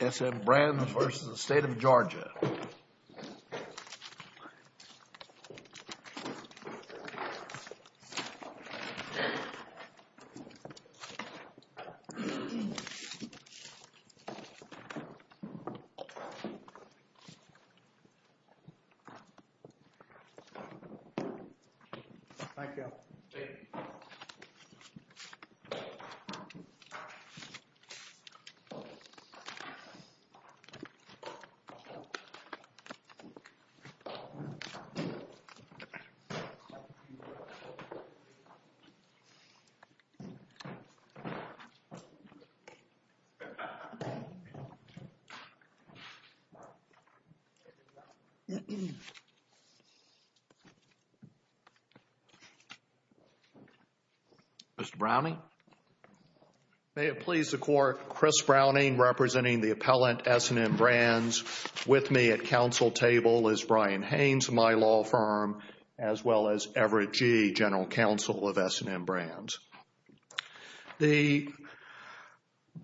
S&M Brands, Inc. v. State of Georgia Mr. Browning. May it please the Court, Chris Browning representing the appellant, S&M Brands, with me at counsel table is Brian Haynes, my law firm, as well as Everett G., General Counsel of S&M Brands.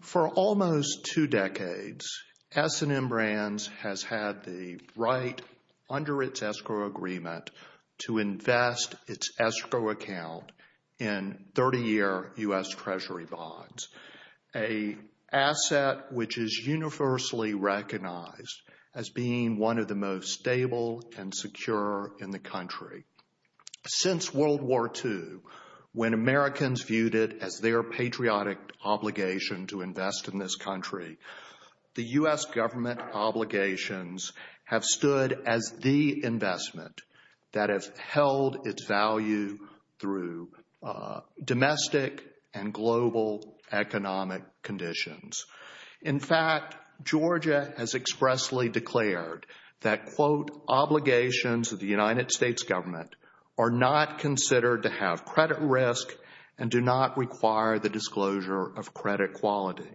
For almost two decades, S&M Brands has had the right under its escrow agreement to invest its escrow account in 30-year U.S. Treasury bonds, an asset which is universally recognized as being one of the most stable and secure in the country. Since World War II, when Americans viewed it as their patriotic obligation to invest in this country, the U.S. government obligations have stood as the investment that has held its value through domestic and global economic conditions. In fact, Georgia has expressly declared that, quote, obligations of the United States government are not considered to have credit risk and do not require the disclosure of credit quality.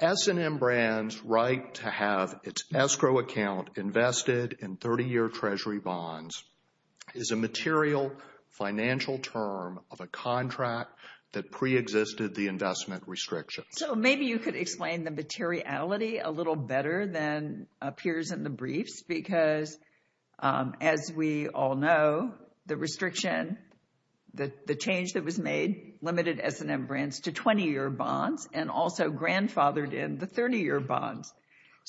S&M Brands' right to have its escrow account invested in 30-year Treasury bonds is a material financial term of a contract that preexisted the investment restriction. So maybe you could explain the materiality a little better than appears in the briefs because as we all know, the restriction, the change that was made limited S&M Brands to 20-year bonds and also grandfathered in the 30-year bonds.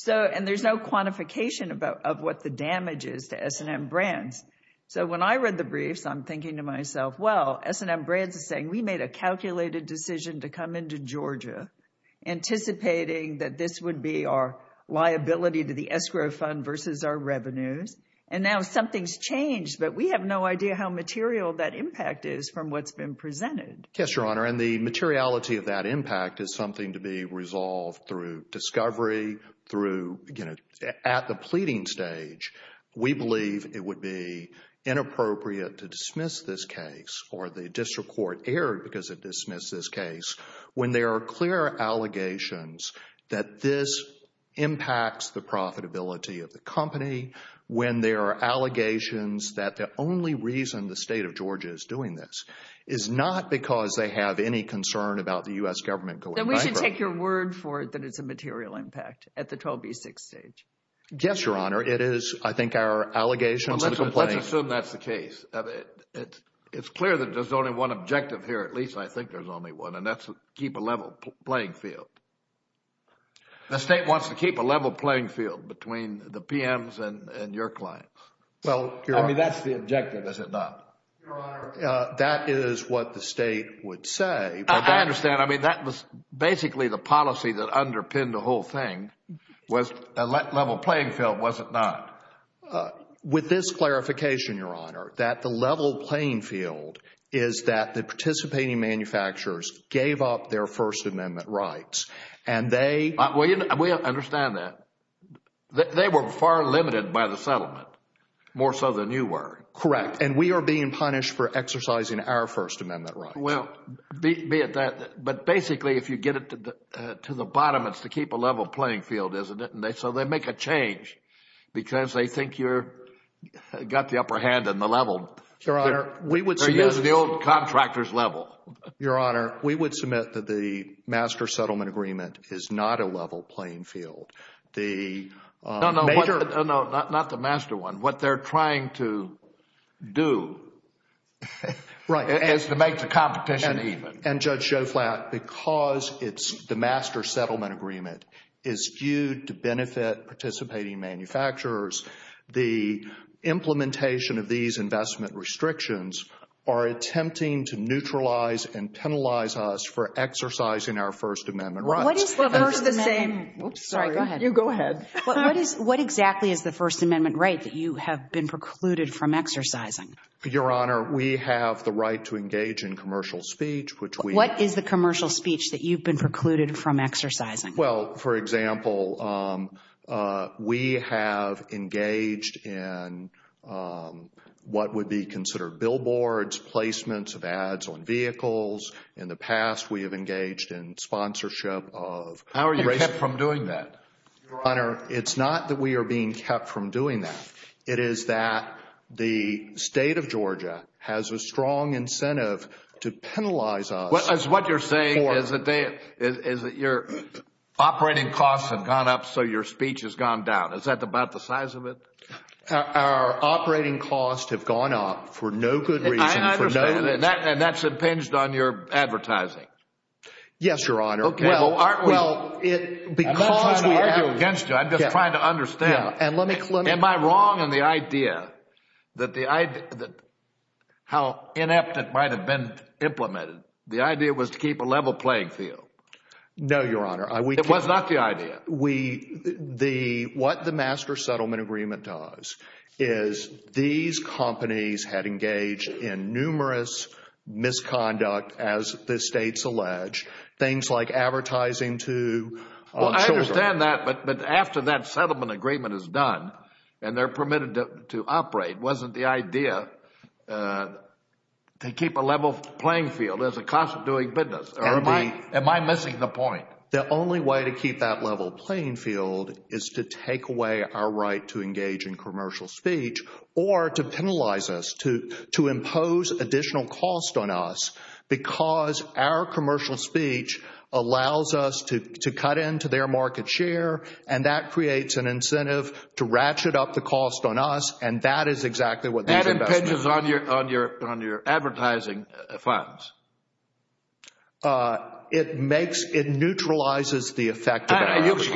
And there's no quantification of what the damage is to S&M Brands. So when I read the briefs, I'm thinking to myself, well, S&M Brands is saying we made a calculated decision to come into Georgia anticipating that this would be our liability to the escrow fund versus our revenues. And now something's changed, but we have no idea how material that impact is from what's been presented. Yes, Your Honor, and the materiality of that impact is something to be resolved through discovery through, you know, at the pleading stage. We believe it would be inappropriate to dismiss this case or the district court erred because it dismissed this case when there are clear allegations that this impacts the profitability of the company, when there are allegations that the only reason the state of Georgia is doing this is not because they have any concern about the U.S. government going bankrupt. Then we should take your word for it that it's a material impact at the 12B6 stage. Yes, Your Honor, it is. I think our allegations and complaints... Well, let's assume that's the case. It's clear that there's only one objective here, at least I think there's only one, and that's to keep a level playing field. The state wants to keep a level playing field between the PMs and your clients. Well, Your Honor... I mean, that's the objective. Is it not? Your Honor, that is what the state would say. I understand. I mean, that was basically the policy that underpinned the whole thing was a level playing field. Was it not? With this clarification, Your Honor, that the level playing field is that the participating manufacturers gave up their First Amendment rights and they... We understand that. They were far limited by the settlement, more so than you were. Correct. And we are being punished for exercising our First Amendment rights. Well, be it that, but basically, if you get it to the bottom, it's to keep a level playing field, isn't it? And so they make a change because they think you've got the upper hand in the level. Your Honor, we would submit... They're using the old contractor's level. Your Honor, we would submit that the master settlement agreement is not a level playing field. The major... No, no, not the master one. What they're trying to do is to make the competition even. And Judge Schoflat, because the master settlement agreement is due to benefit participating manufacturers, the implementation of these investment restrictions are attempting to neutralize and penalize us for exercising our First Amendment rights. What is the First Amendment... Oops, sorry. Go ahead. You go ahead. What exactly is the First Amendment right that you have been precluded from exercising? Your Honor, we have the right to engage in commercial speech, which we... What is the commercial speech that you've been precluded from exercising? Well, for example, we have engaged in what would be considered billboards, placements of ads on vehicles. In the past, we have engaged in sponsorship of... How are you kept from doing that? Your Honor, it's not that we are being kept from doing that. It is that the state of Georgia has a strong incentive to penalize us for... What you're saying is that your operating costs have gone up, so your speech has gone down. Is that about the size of it? Our operating costs have gone up for no good reason, for no... I understand that. And that's impinged on your advertising. Yes, Your Honor. Okay. Well, aren't we... Because we have... I'm not trying to argue against you. I'm just trying to understand. Yeah. And let me... Am I wrong in the idea that how inept it might have been implemented? The idea was to keep a level playing field. No, Your Honor. It was not the idea. What the Master Settlement Agreement does is these companies had engaged in numerous misconduct, as the states allege, things like advertising to children. Well, I understand that, but after that settlement agreement is done and they're permitted to operate, wasn't the idea to keep a level playing field as a cost of doing business? Or am I missing the point? The only way to keep that level playing field is to take away our right to engage in commercial speech or to penalize us, to impose additional cost on us because our commercial speech allows us to cut into their market share, and that creates an incentive to ratchet up the cost on us, and that is exactly what these investments... That impinges on your advertising funds. It makes... It neutralizes the effect of advertising.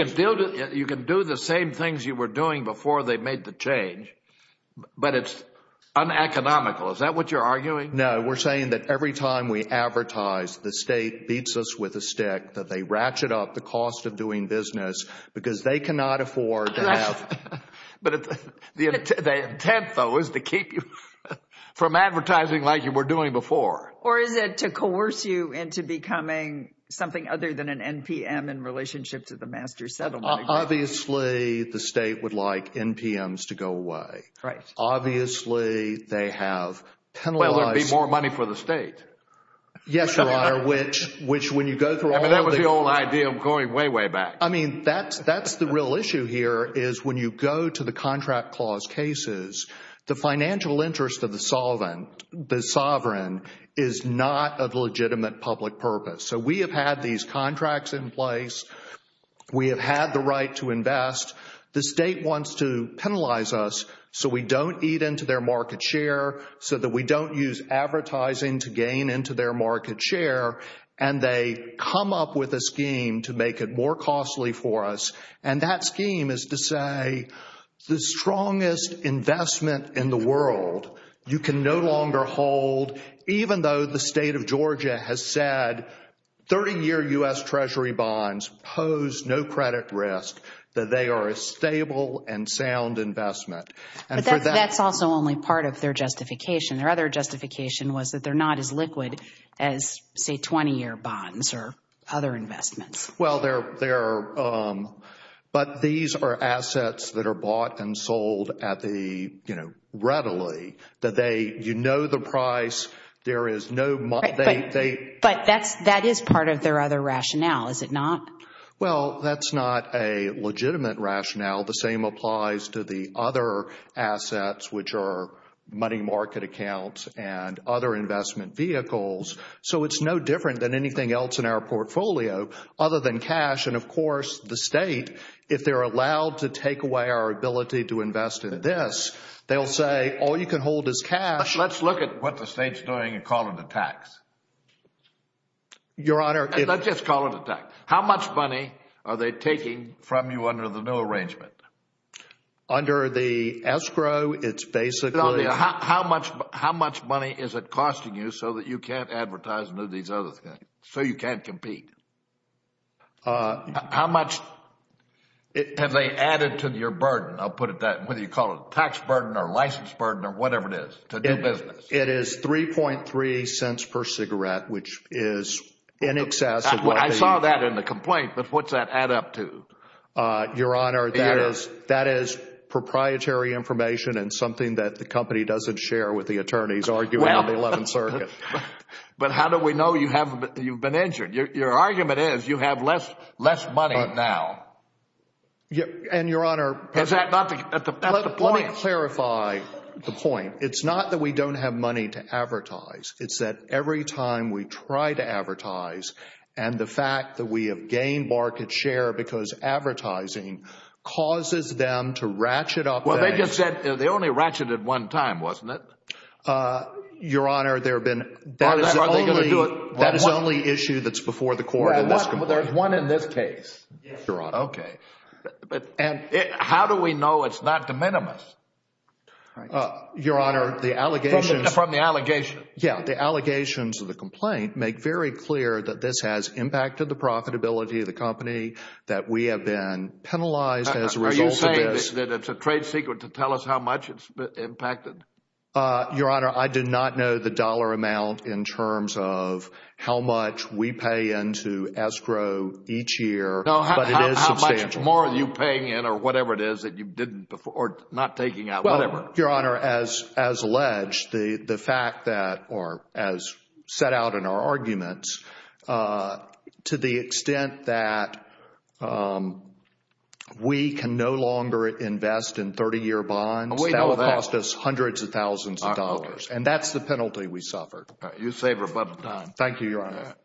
You can do the same things you were doing before they made the change, but it's uneconomical. Is that what you're arguing? No, we're saying that every time we advertise, the state beats us with a stick, that they ratchet up the cost of doing business because they cannot afford to have... But the intent, though, is to keep you from advertising like you were doing before. Or is it to coerce you into becoming something other than an NPM in relationship to the master settlement? Obviously, the state would like NPMs to go away. Obviously, they have penalized... Will there be more money for the state? Yes, Your Honor, which when you go through all of the... I mean, that was the old idea of going way, way back. I mean, that's the real issue here is when you go to the contract clause cases, the financial interest of the sovereign is not of legitimate public purpose. So we have had these contracts in place. We have had the right to invest. The state wants to penalize us so we don't eat into their market share, so that we don't use advertising to gain into their market share. And they come up with a scheme to make it more costly for us. And that scheme is to say, the strongest investment in the world you can no longer hold, even though the state of Georgia has said 30-year U.S. Treasury bonds pose no credit risk, that they are a stable and sound investment. But that's also only part of their justification. Their other justification was that they're not as liquid as, say, 20-year bonds or other investments. Well, they're... But these are assets that are bought and sold at the, you know, readily, that they... But that is part of their other rationale, is it not? Well, that's not a legitimate rationale. The same applies to the other assets, which are money market accounts and other investment vehicles. So it's no different than anything else in our portfolio, other than cash. And of course, the state, if they're allowed to take away our ability to invest in this, they'll say, all you can hold is cash. Let's look at what the state's doing and call it a tax. Your Honor... Let's just call it a tax. How much money are they taking from you under the new arrangement? Under the escrow, it's basically... How much money is it costing you so that you can't advertise and do these other things, so you can't compete? How much have they added to your burden? I'll put it that way. Whether you call it a tax burden or a license burden or whatever it is, to do business. It is 3.3 cents per cigarette, which is in excess of what the... I saw that in the complaint, but what's that add up to? Your Honor, that is proprietary information and something that the company doesn't share with the attorneys arguing in the 11th Circuit. But how do we know you've been injured? Your argument is you have less money now. And Your Honor... Is that not the point? Let me clarify the point. It's not that we don't have money to advertise. It's that every time we try to advertise and the fact that we have gained market share because advertising causes them to ratchet up things... Well, they just said they only ratcheted one time, wasn't it? Your Honor, there have been... Are they going to do it one more time? That is the only issue that's before the court in this complaint. Well, there's one in this case, Your Honor. Okay. But how do we know it's not de minimis? Your Honor, the allegations... From the allegation. Yeah. The allegations of the complaint make very clear that this has impacted the profitability of the company, that we have been penalized as a result of this. Are you saying that it's a trade secret to tell us how much it's impacted? Your Honor, I do not know the dollar amount in terms of how much we pay into escrow each year, but it is substantial. No, how much more are you paying in or whatever it is that you didn't before or not taking out, whatever? Your Honor, as alleged, the fact that or as set out in our arguments, to the extent that we can no longer invest in 30-year bonds, that will cost us hundreds of thousands of dollars. And that's the penalty we suffered. All right. You say, but... Thank you, Your Honor.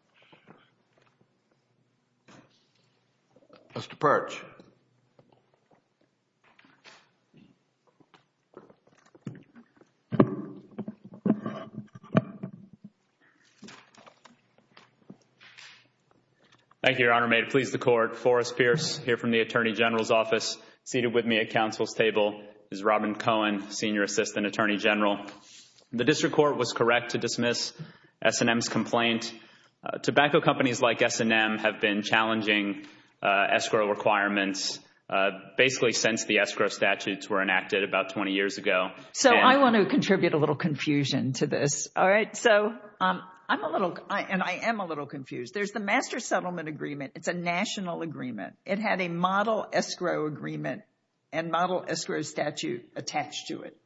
Mr. Perch. Thank you, Your Honor. May it please the court, Forrest Pierce here from the Attorney General's Office seated with me at counsel's table is Robin Cohen, Senior Assistant Attorney General. The district court was correct to dismiss S&M's complaint. Tobacco companies like S&M have been challenging escrow requirements basically since the escrow statutes were enacted about 20 years ago. So I want to contribute a little confusion to this. All right. So I'm a little, and I am a little confused. There's the master settlement agreement. It's a national agreement. It had a model escrow agreement and model escrow statute attached to it.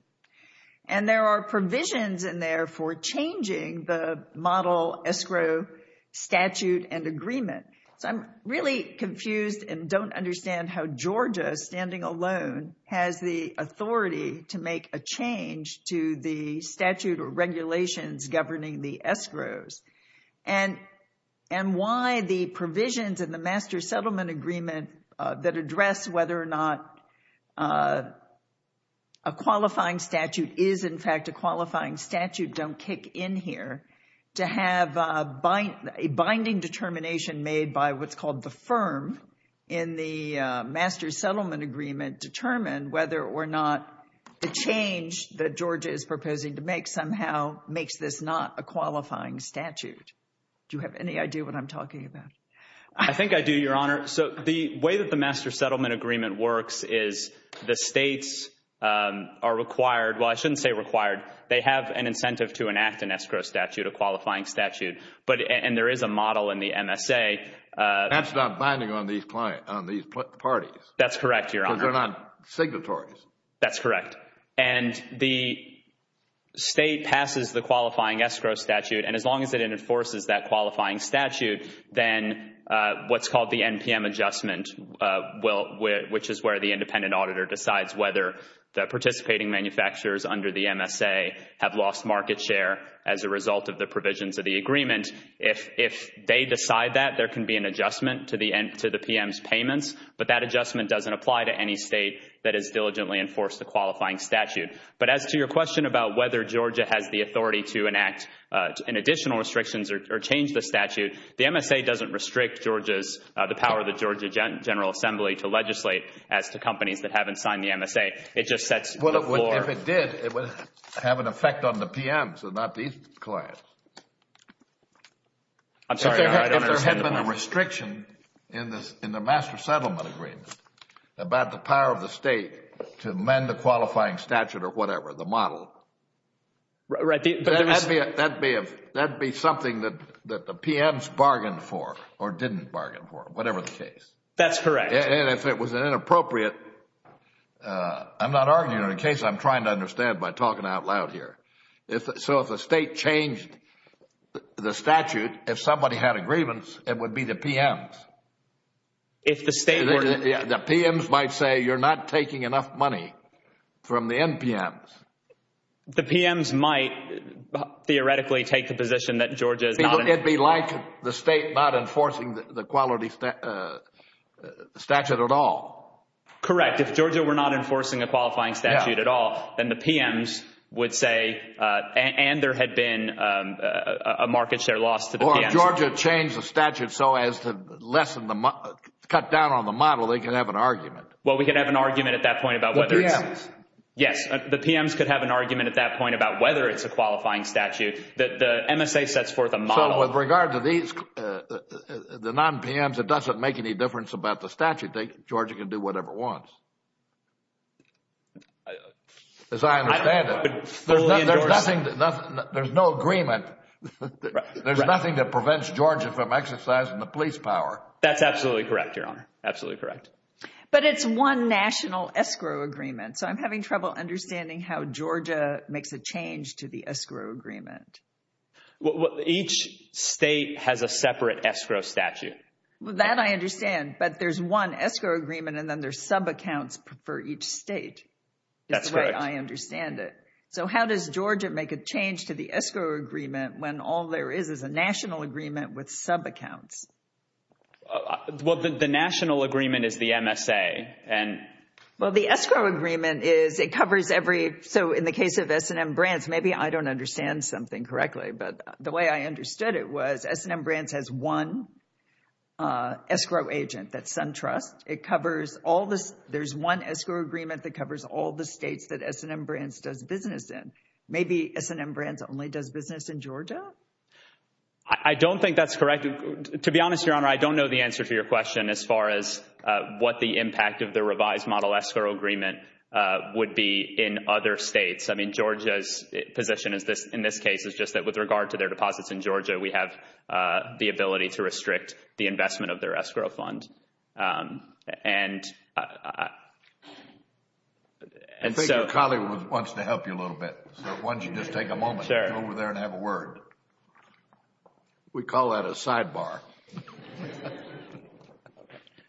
And there are provisions in there for changing the model escrow statute and agreement. So I'm really confused and don't understand how Georgia, standing alone, has the authority to make a change to the statute or regulations governing the escrows. And why the provisions in the master settlement agreement that address whether or not a qualifying statute is in fact a qualifying statute don't kick in here to have a binding determination made by what's called the firm in the master settlement agreement determine whether or not the change that Georgia is proposing to make somehow makes this not a qualifying statute. Do you have any idea what I'm talking about? I think I do, Your Honor. So the way that the master settlement agreement works is the states are required, well, I shouldn't say required. They have an incentive to enact an escrow statute, a qualifying statute. And there is a model in the MSA. That's not binding on these parties. That's correct, Your Honor. Because they're not signatories. That's correct. And the state passes the qualifying escrow statute and as long as it enforces that qualifying statute, then what's called the NPM adjustment, which is where the independent auditor decides whether the participating manufacturers under the MSA have lost market share as a result of the provisions of the agreement, if they decide that, there can be an adjustment to the PM's payments. But that adjustment doesn't apply to any state that has diligently enforced the qualifying statute. But as to your question about whether Georgia has the authority to enact additional restrictions or change the statute, the MSA doesn't restrict Georgia's, the power of the Georgia General Assembly to legislate as to companies that haven't signed the MSA. It just sets the floor. Well, if it did, it would have an effect on the PMs and not these clients. I'm sorry, Your Honor, I don't understand the point. If there had been a restriction in the master settlement agreement about the power of the state to amend the qualifying statute or whatever, the model, that would be something that the PMs bargained for or didn't bargain for, whatever the case. That's correct. And if it was inappropriate, I'm not arguing it, in case I'm trying to understand by talking out loud here. So if the state changed the statute, if somebody had agreements, it would be the PMs. If the state were to... The PMs might say, you're not taking enough money from the NPMs. The PMs might theoretically take the position that Georgia is not... It would be like the state not enforcing the quality statute at all. Correct. If Georgia were not enforcing a qualifying statute at all, then the PMs would say, and there had been a market share loss to the PMs. Or if Georgia changed the statute so as to lessen the, cut down on the model, they could have an argument. Well, we could have an argument at that point about whether it's... The PMs. The PMs could have an argument at that point about whether it's a qualifying statute. The MSA sets forth a model. So with regard to these, the non-PMs, it doesn't make any difference about the statute. Georgia can do whatever it wants, as I understand it. There's no agreement. There's nothing that prevents Georgia from exercising the police power. That's absolutely correct, Your Honor. Absolutely correct. But it's one national escrow agreement. So I'm having trouble understanding how Georgia makes a change to the escrow agreement. Each state has a separate escrow statute. Well, that I understand, but there's one escrow agreement and then there's sub-accounts for That's correct. That's the way I understand it. So how does Georgia make a change to the escrow agreement when all there is is a national agreement with sub-accounts? Well, the national agreement is the MSA. Well, the escrow agreement is, it covers every, so in the case of S&M Brands, maybe I don't understand something correctly, but the way I understood it was S&M Brands has one escrow agent, that's SunTrust. It covers all this. There's one escrow agreement that covers all the states that S&M Brands does business in. Maybe S&M Brands only does business in Georgia? I don't think that's correct. To be honest, Your Honor, I don't know the answer to your question as far as what the impact of the revised model escrow agreement would be in other states. I mean, Georgia's position is this, in this case, is just that with regard to their deposits in Georgia, we have the ability to restrict the investment of their escrow fund. And so... I think your colleague wants to help you a little bit, so why don't you just take a moment to go over there and have a word. We call that a sidebar.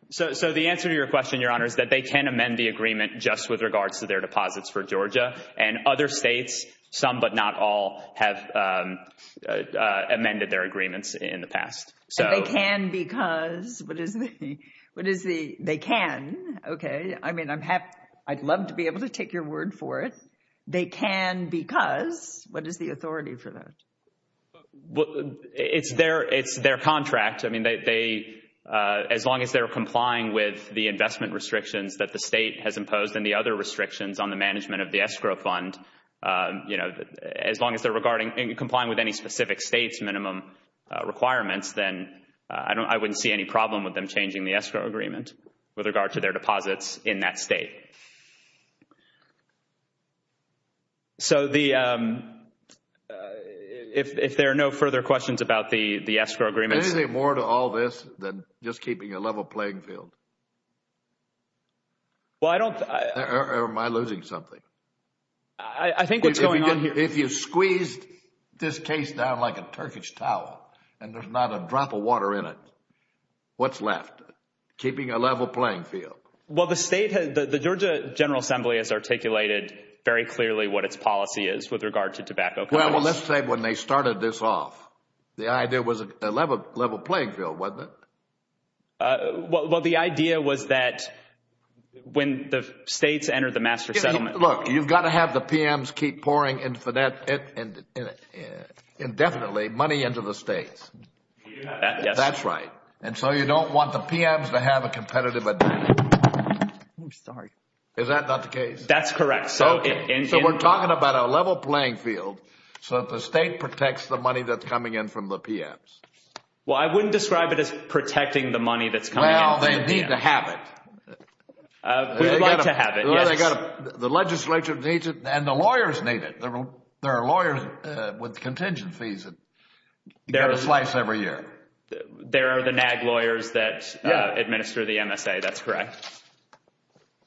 So, the answer to your question, Your Honor, is that they can amend the agreement just with regards to their deposits for Georgia, and other states, some but not all, have amended their agreements in the past. And they can because, what is the, they can, okay, I mean, I'd love to be able to take your word for it. They can because, what is the authority for that? Well, it's their contract. I mean, they, as long as they're complying with the investment restrictions that the state has imposed and the other restrictions on the management of the escrow fund, you know, as long as they're regarding, complying with any specific state's minimum requirements, then I wouldn't see any problem with them changing the escrow agreement with regard to their deposits in that state. Okay. So the, if there are no further questions about the escrow agreements. Anything more to all this than just keeping a level playing field? Well, I don't, I, or am I losing something? I think what's going on here. If you squeezed this case down like a Turkish towel and there's not a drop of water in it, what's left? Keeping a level playing field. Well, the state has, the Georgia General Assembly has articulated very clearly what its policy is with regard to tobacco. Well, let's say when they started this off, the idea was a level playing field, wasn't it? Well, the idea was that when the states entered the master settlement. Look, you've got to have the PMs keep pouring indefinitely money into the states. Yes. That's right. And so you don't want the PMs to have a competitive advantage. I'm sorry. Is that not the case? That's correct. So we're talking about a level playing field so that the state protects the money that's coming in from the PMs. Well, I wouldn't describe it as protecting the money that's coming in from the PMs. Well, they need to have it. We'd like to have it, yes. They've got to, the legislature needs it and the lawyers need it. There are lawyers with contingent fees that you've got to slice every year. There are the NAG lawyers that administer the MSA, that's correct.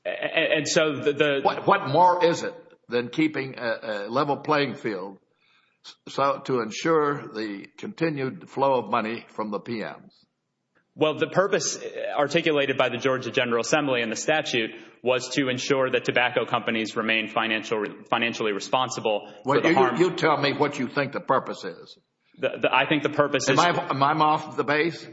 And so the... What more is it than keeping a level playing field to ensure the continued flow of money from the PMs? Well, the purpose articulated by the Georgia General Assembly in the statute was to ensure that tobacco companies remain financially responsible for the harms... Well, you tell me what you think the purpose is. I think the purpose is... Am I off the base?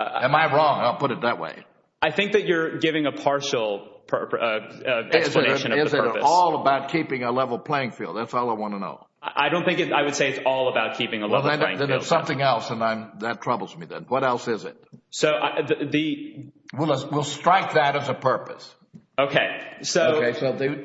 Am I wrong? I'll put it that way. I think that you're giving a partial explanation of the purpose. Is it all about keeping a level playing field? That's all I want to know. I don't think it... I would say it's all about keeping a level playing field. Then there's something else and that troubles me then. What else is it? So the... We'll strike that as a purpose. Okay. So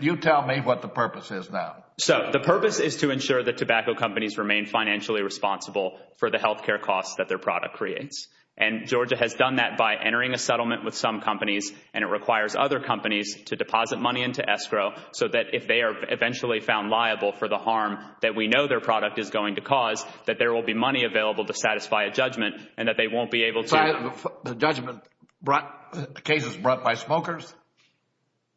you tell me what the purpose is now. So the purpose is to ensure that tobacco companies remain financially responsible for the health care costs that their product creates. And Georgia has done that by entering a settlement with some companies and it requires other companies to deposit money into escrow so that if they are eventually found liable for the harm that we know their product is going to cause, that there will be money available to satisfy a judgment and that they won't be able to... The judgment brought... The case is brought by smokers?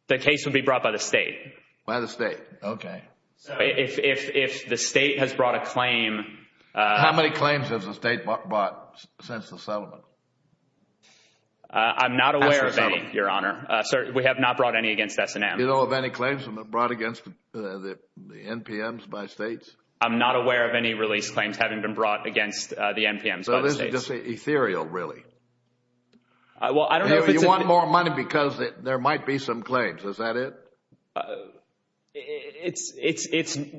The case would be brought by the state. By the state. Okay. So if the state has brought a claim... How many claims has the state brought since the settlement? I'm not aware of any, Your Honor. We have not brought any against S&M. Do you know of any claims brought against the NPMs by states? I'm not aware of any release claims having been brought against the NPMs by the states. So this is just ethereal, really? Well I don't know if it's... You want more money because there might be some claims, is that it? It's...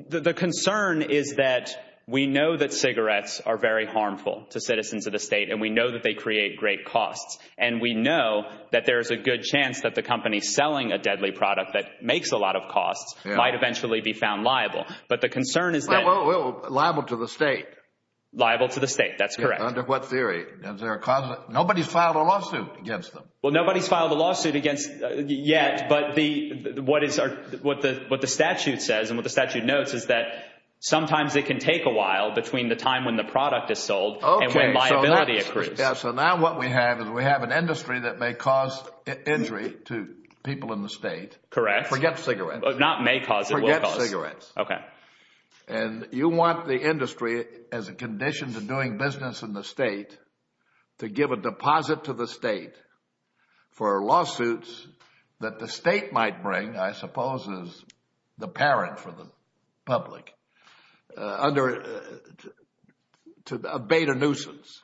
The concern is that we know that cigarettes are very harmful to citizens of the state and we know that they create great costs and we know that there is a good chance that the company selling a deadly product that makes a lot of costs might eventually be found liable. But the concern is that... Well, liable to the state. Liable to the state, that's correct. Under what theory? Is there a cause... Nobody's filed a lawsuit against them. Well nobody's filed a lawsuit against... yet, but what the statute says and what the statute notes is that sometimes it can take a while between the time when the product is sold and when liability accrues. So now what we have is we have an industry that may cause injury to people in the state. Correct. Forget cigarettes. Not may cause, it will cause. Forget cigarettes. Okay. And you want the industry, as a condition to doing business in the state, to give a deposit to the state for lawsuits that the state might bring, I suppose, as the parent for the public, to abate a nuisance.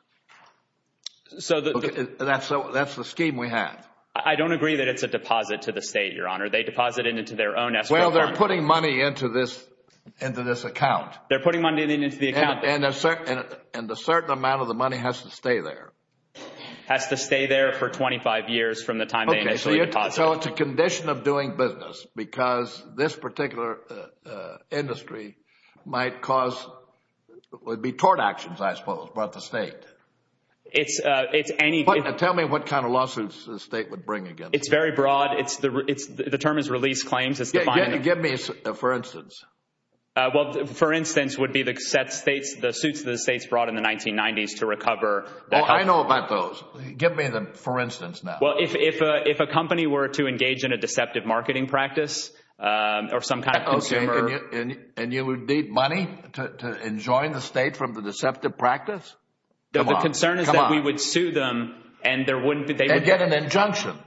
So that's the scheme we have. I don't agree that it's a deposit to the state, Your Honor. They deposit it into their own escrow fund. Well, they're putting money into this account. They're putting money into the account. And a certain amount of the money has to stay there. Has to stay there for 25 years from the time they initially deposit it. Okay. So it's a condition of doing business because this particular industry might cause, would be tort actions, I suppose, by the state. It's any... Tell me what kind of lawsuits the state would bring against you. It's very broad. The term is release claims. It's defining... Yeah. Give me, for instance. Well, for instance, would be the states, the suits that the states brought in the 1990s to recover... Well, I know about those. Give me the, for instance, now. Well, if a company were to engage in a deceptive marketing practice or some kind of consumer... Okay. And you would need money to enjoin the state from the deceptive practice? Come on. The concern is that we would sue them and there wouldn't be... They'd get an injunction.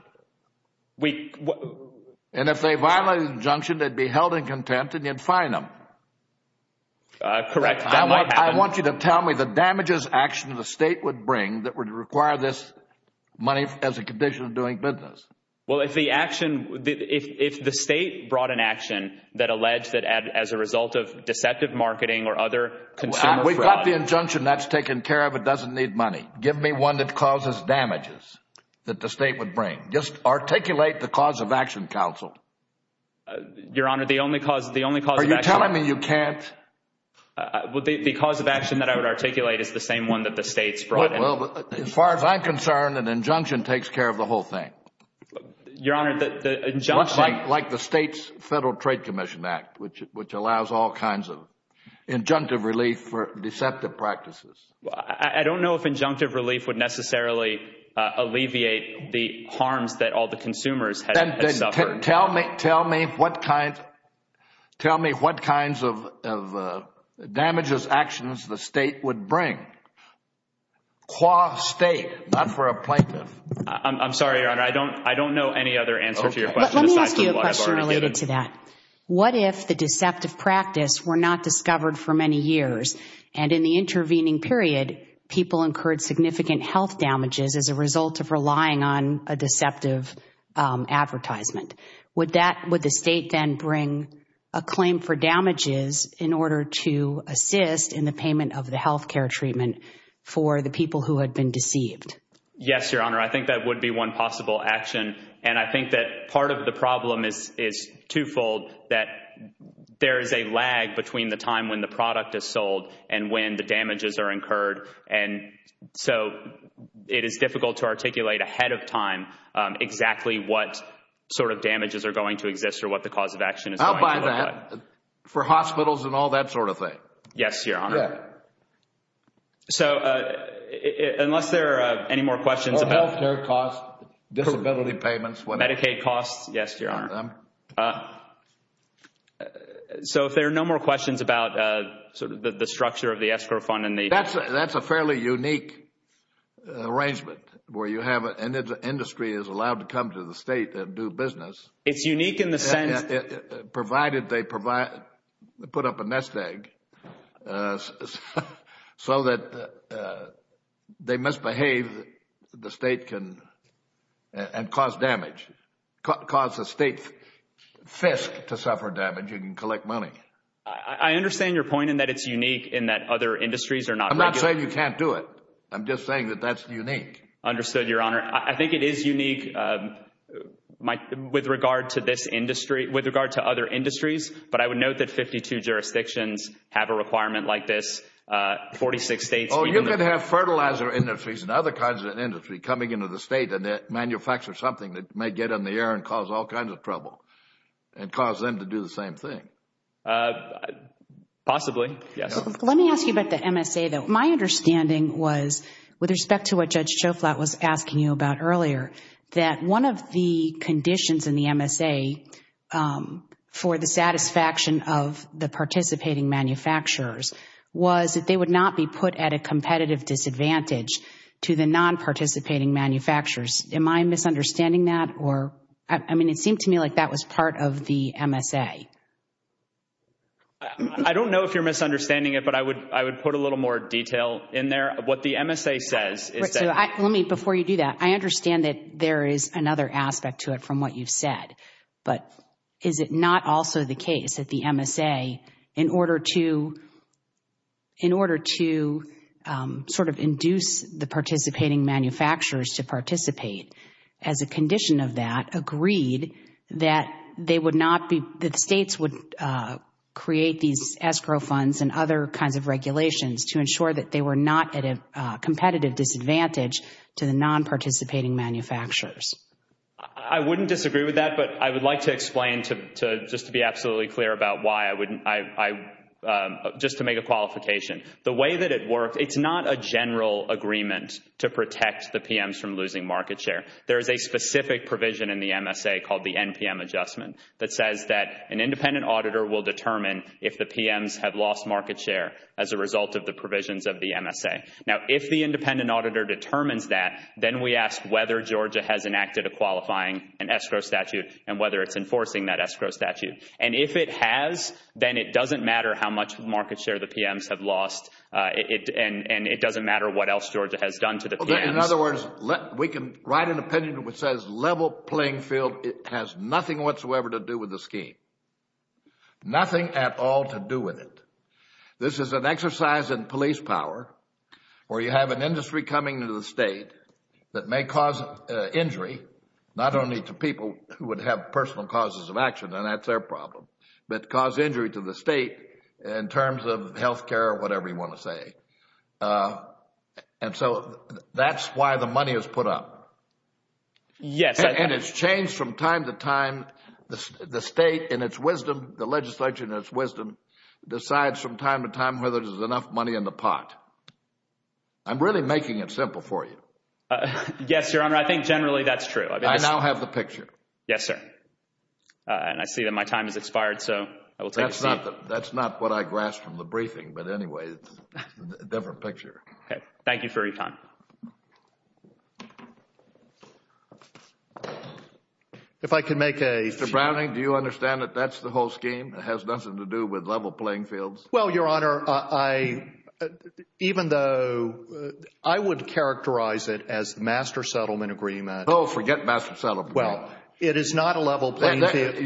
And if they violated the injunction, they'd be held in contempt and you'd fine them. Correct. That might happen. I want you to tell me the damages action the state would bring that would require this money as a condition of doing business. Well, if the action... If the state brought an action that alleged that as a result of deceptive marketing or other consumer fraud... We've got the injunction. That's taken care of. It doesn't need money. Give me one that causes damages that the state would bring. Just articulate the cause of action, counsel. Your Honor, the only cause... The only cause of action... Are you telling me you can't? Well, the cause of action that I would articulate is the same one that the state's brought. Well, as far as I'm concerned, an injunction takes care of the whole thing. Your Honor, the injunction... Like the state's Federal Trade Commission Act, which allows all kinds of injunctive relief for deceptive practices. I don't know if injunctive relief would necessarily alleviate the harms that all the consumers had suffered. Tell me what kinds of damages, actions the state would bring, qua state, not for a plaintiff. I'm sorry, Your Honor. I don't know any other answer to your question aside from what I've already given. Let me ask you a question related to that. What if the deceptive practice were not discovered for many years, and in the intervening period, people incurred significant health damages as a result of relying on a deceptive advertisement? Would the state then bring a claim for damages in order to assist in the payment of the healthcare treatment for the people who had been deceived? Yes, Your Honor. I think that would be one possible action. And I think that part of the problem is twofold, that there is a lag between the time when the product is sold and when the damages are incurred, and so it is difficult to articulate ahead of time exactly what sort of damages are going to exist or what the cause of action is going to look like. I'll buy that for hospitals and all that sort of thing. Yes, Your Honor. So unless there are any more questions about healthcare costs, disability payments, whatever. Medicaid costs, yes, Your Honor. So if there are no more questions about sort of the structure of the escrow fund and the That's a fairly unique arrangement where you have an industry that is allowed to come to the state and do business. It's unique in the sense Provided they put up a nest egg so that they misbehave, the state can, and cause damage, cause the state's fisk to suffer damage, you can collect money. I understand your point in that it's unique in that other industries are not I'm not saying you can't do it. I'm just saying that that's unique. Understood, Your Honor. I think it is unique with regard to this industry, with regard to other industries, but I would note that 52 jurisdictions have a requirement like this, 46 states Oh, you could have fertilizer industries and other kinds of industry coming into the state and they manufacture something that may get in the air and cause all kinds of trouble and cause them to do the same thing. Possibly, yes. Let me ask you about the MSA, though. My understanding was, with respect to what Judge Schoflat was asking you about earlier, that one of the conditions in the MSA for the satisfaction of the participating manufacturers was that they would not be put at a competitive disadvantage to the non-participating manufacturers. Am I misunderstanding that? Or, I mean, it seemed to me like that was part of the MSA. I don't know if you're misunderstanding it, but I would put a little more detail in there. What the MSA says is that Right, so let me, before you do that, I understand that there is another aspect to it from what you've said, but is it not also the case that the MSA, in order to sort of induce the participating manufacturers to participate as a condition of that, agreed that they would not be, that states would create these escrow funds and other kinds of regulations to ensure that they were not at a competitive disadvantage to the non-participating manufacturers? I wouldn't disagree with that, but I would like to explain to, just to be absolutely clear about why, I wouldn't, I, just to make a qualification. The way that it works, it's not a general agreement to protect the PMs from losing market share. There is a specific provision in the MSA called the NPM adjustment that says that an independent auditor will determine if the PMs have lost market share as a result of the provisions of the MSA. Now, if the independent auditor determines that, then we ask whether Georgia has enacted a qualifying, an escrow statute, and whether it's enforcing that escrow statute. And if it has, then it doesn't matter how much market share the PMs have lost, and it doesn't matter what else Georgia has done to the PMs. In other words, we can write an opinion which says level playing field has nothing whatsoever to do with the scheme, nothing at all to do with it. This is an exercise in police power, where you have an industry coming into the state that may cause injury, not only to people who would have personal causes of action, and that's their problem, but cause injury to the state in terms of health care, whatever you want to say. And so that's why the money is put up. Yes, I think. And it's changed from time to time. The state, in its wisdom, the legislature, in its wisdom, decides from time to time whether there's enough money in the pot. I'm really making it simple for you. Yes, Your Honor, I think generally that's true. I now have the picture. Yes, sir. And I see that my time has expired, so I will take a seat. That's not what I grasped from the briefing, but anyway, it's a different picture. Okay. Thank you for your time. Mr. Browning, do you understand that that's the whole scheme? It has nothing to do with level playing fields? Well, Your Honor, even though I would characterize it as the Master Settlement Agreement. Oh, forget Master Settlement Agreement. Well, it is not a level playing field.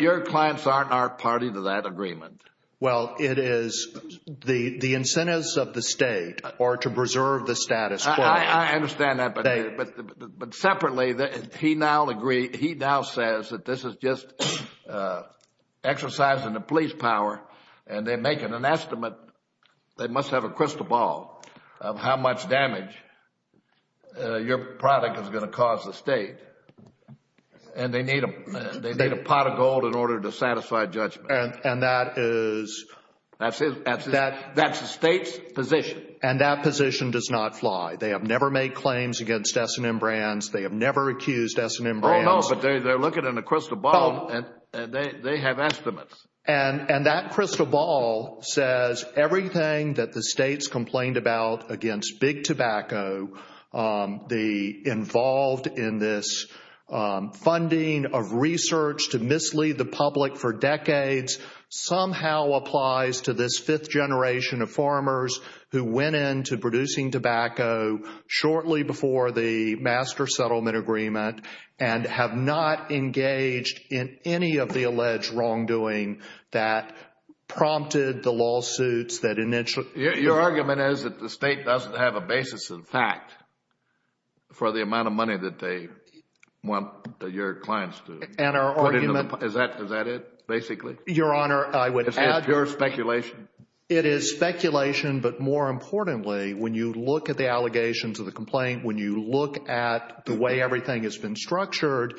Your clients aren't our party to that agreement. Well, it is the incentives of the state are to preserve the status quo. I understand that, but separately, he now says that this is just exercising the police power, and they're making an estimate, they must have a crystal ball of how much damage your product is going to cause the state. And they need a pot of gold in order to satisfy judgment. And that is... That's the state's position. And that position does not fly. They have never made claims against S&M Brands. They have never accused S&M Brands. Oh, no, but they're looking in a crystal ball, and they have estimates. And that crystal ball says everything that the states complained about against big tobacco, involved in this funding of research to mislead the public for decades, somehow applies to this fifth generation of farmers who went into producing tobacco shortly before the Master Settlement Agreement and have not engaged in any of the alleged wrongdoing that prompted the lawsuits that initially... Your argument is that the state doesn't have a basis in fact for the amount of money that they want your clients to put into the... Is that it, basically? Your Honor, I would add... Is that your speculation? It is speculation, but more importantly, when you look at the allegations of the complaint, when you look at the way everything has been structured,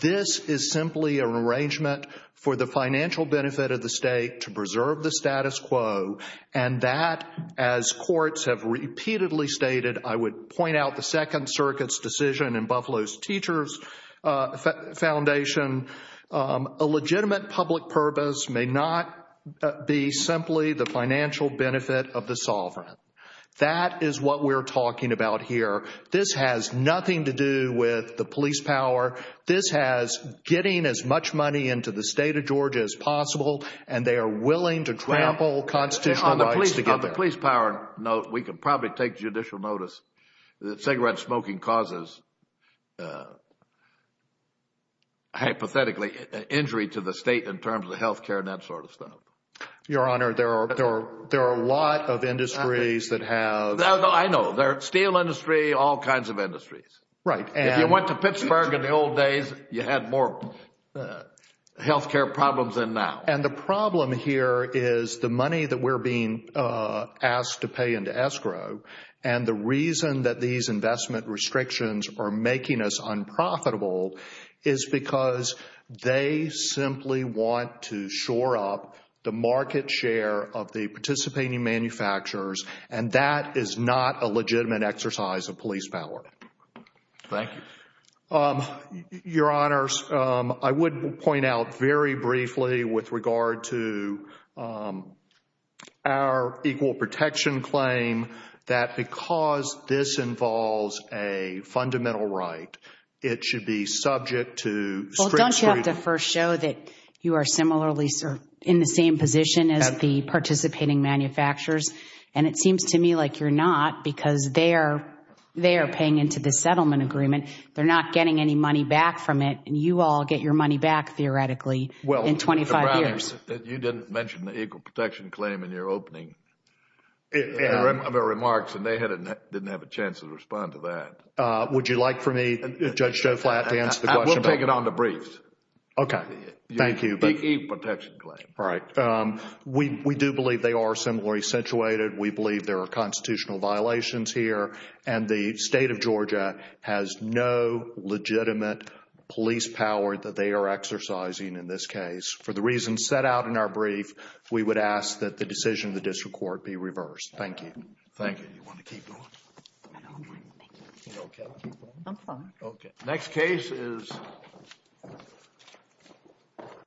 this is simply an arrangement for the financial benefit of the state to preserve the status quo. And that, as courts have repeatedly stated, I would point out the Second Circuit's decision in Buffalo's Teachers Foundation, a legitimate public purpose may not be simply the financial benefit of the sovereign. That is what we're talking about here. This has nothing to do with the police power. This has getting as much money into the state of Georgia as possible, and they are willing to trample constitutional rights to get there. On the police power note, we can probably take judicial notice that cigarette smoking causes, hypothetically, an injury to the state in terms of healthcare and that sort of stuff. Your Honor, there are a lot of industries that have... I know. There are steel industry, all kinds of industries. Right. If you went to Pittsburgh in the old days, you had more healthcare problems than now. And the problem here is the money that we're being asked to pay into escrow, and the reason that these investment restrictions are making us unprofitable is because they simply want to shore up the market share of the participating manufacturers, and that is not a legitimate exercise of police power. Thank you. Your Honors, I would point out very briefly with regard to our equal protection claim, that because this involves a fundamental right, it should be subject to strict... Well, don't you have to first show that you are similarly in the same position as the participating manufacturers? And it seems to me like you're not because they are paying into the settlement agreement. They're not getting any money back from it, that you didn't mention the equal protection claim in your opening remarks, and they didn't have a chance to respond to that. Would you like for me, Judge Joe Flatt, to answer the question? We'll take it on the briefs. Okay. Thank you. The equal protection claim. Right. We do believe they are similarly situated. We believe there are constitutional violations here, and the state of Georgia has no legitimate police power that they are exercising in this case for the reasons set out in our brief. We would ask that the decision of the district court be reversed. Thank you. Thank you. You want to keep going? I don't mind. Thank you. You okay? I'm fine. Okay. Next case is...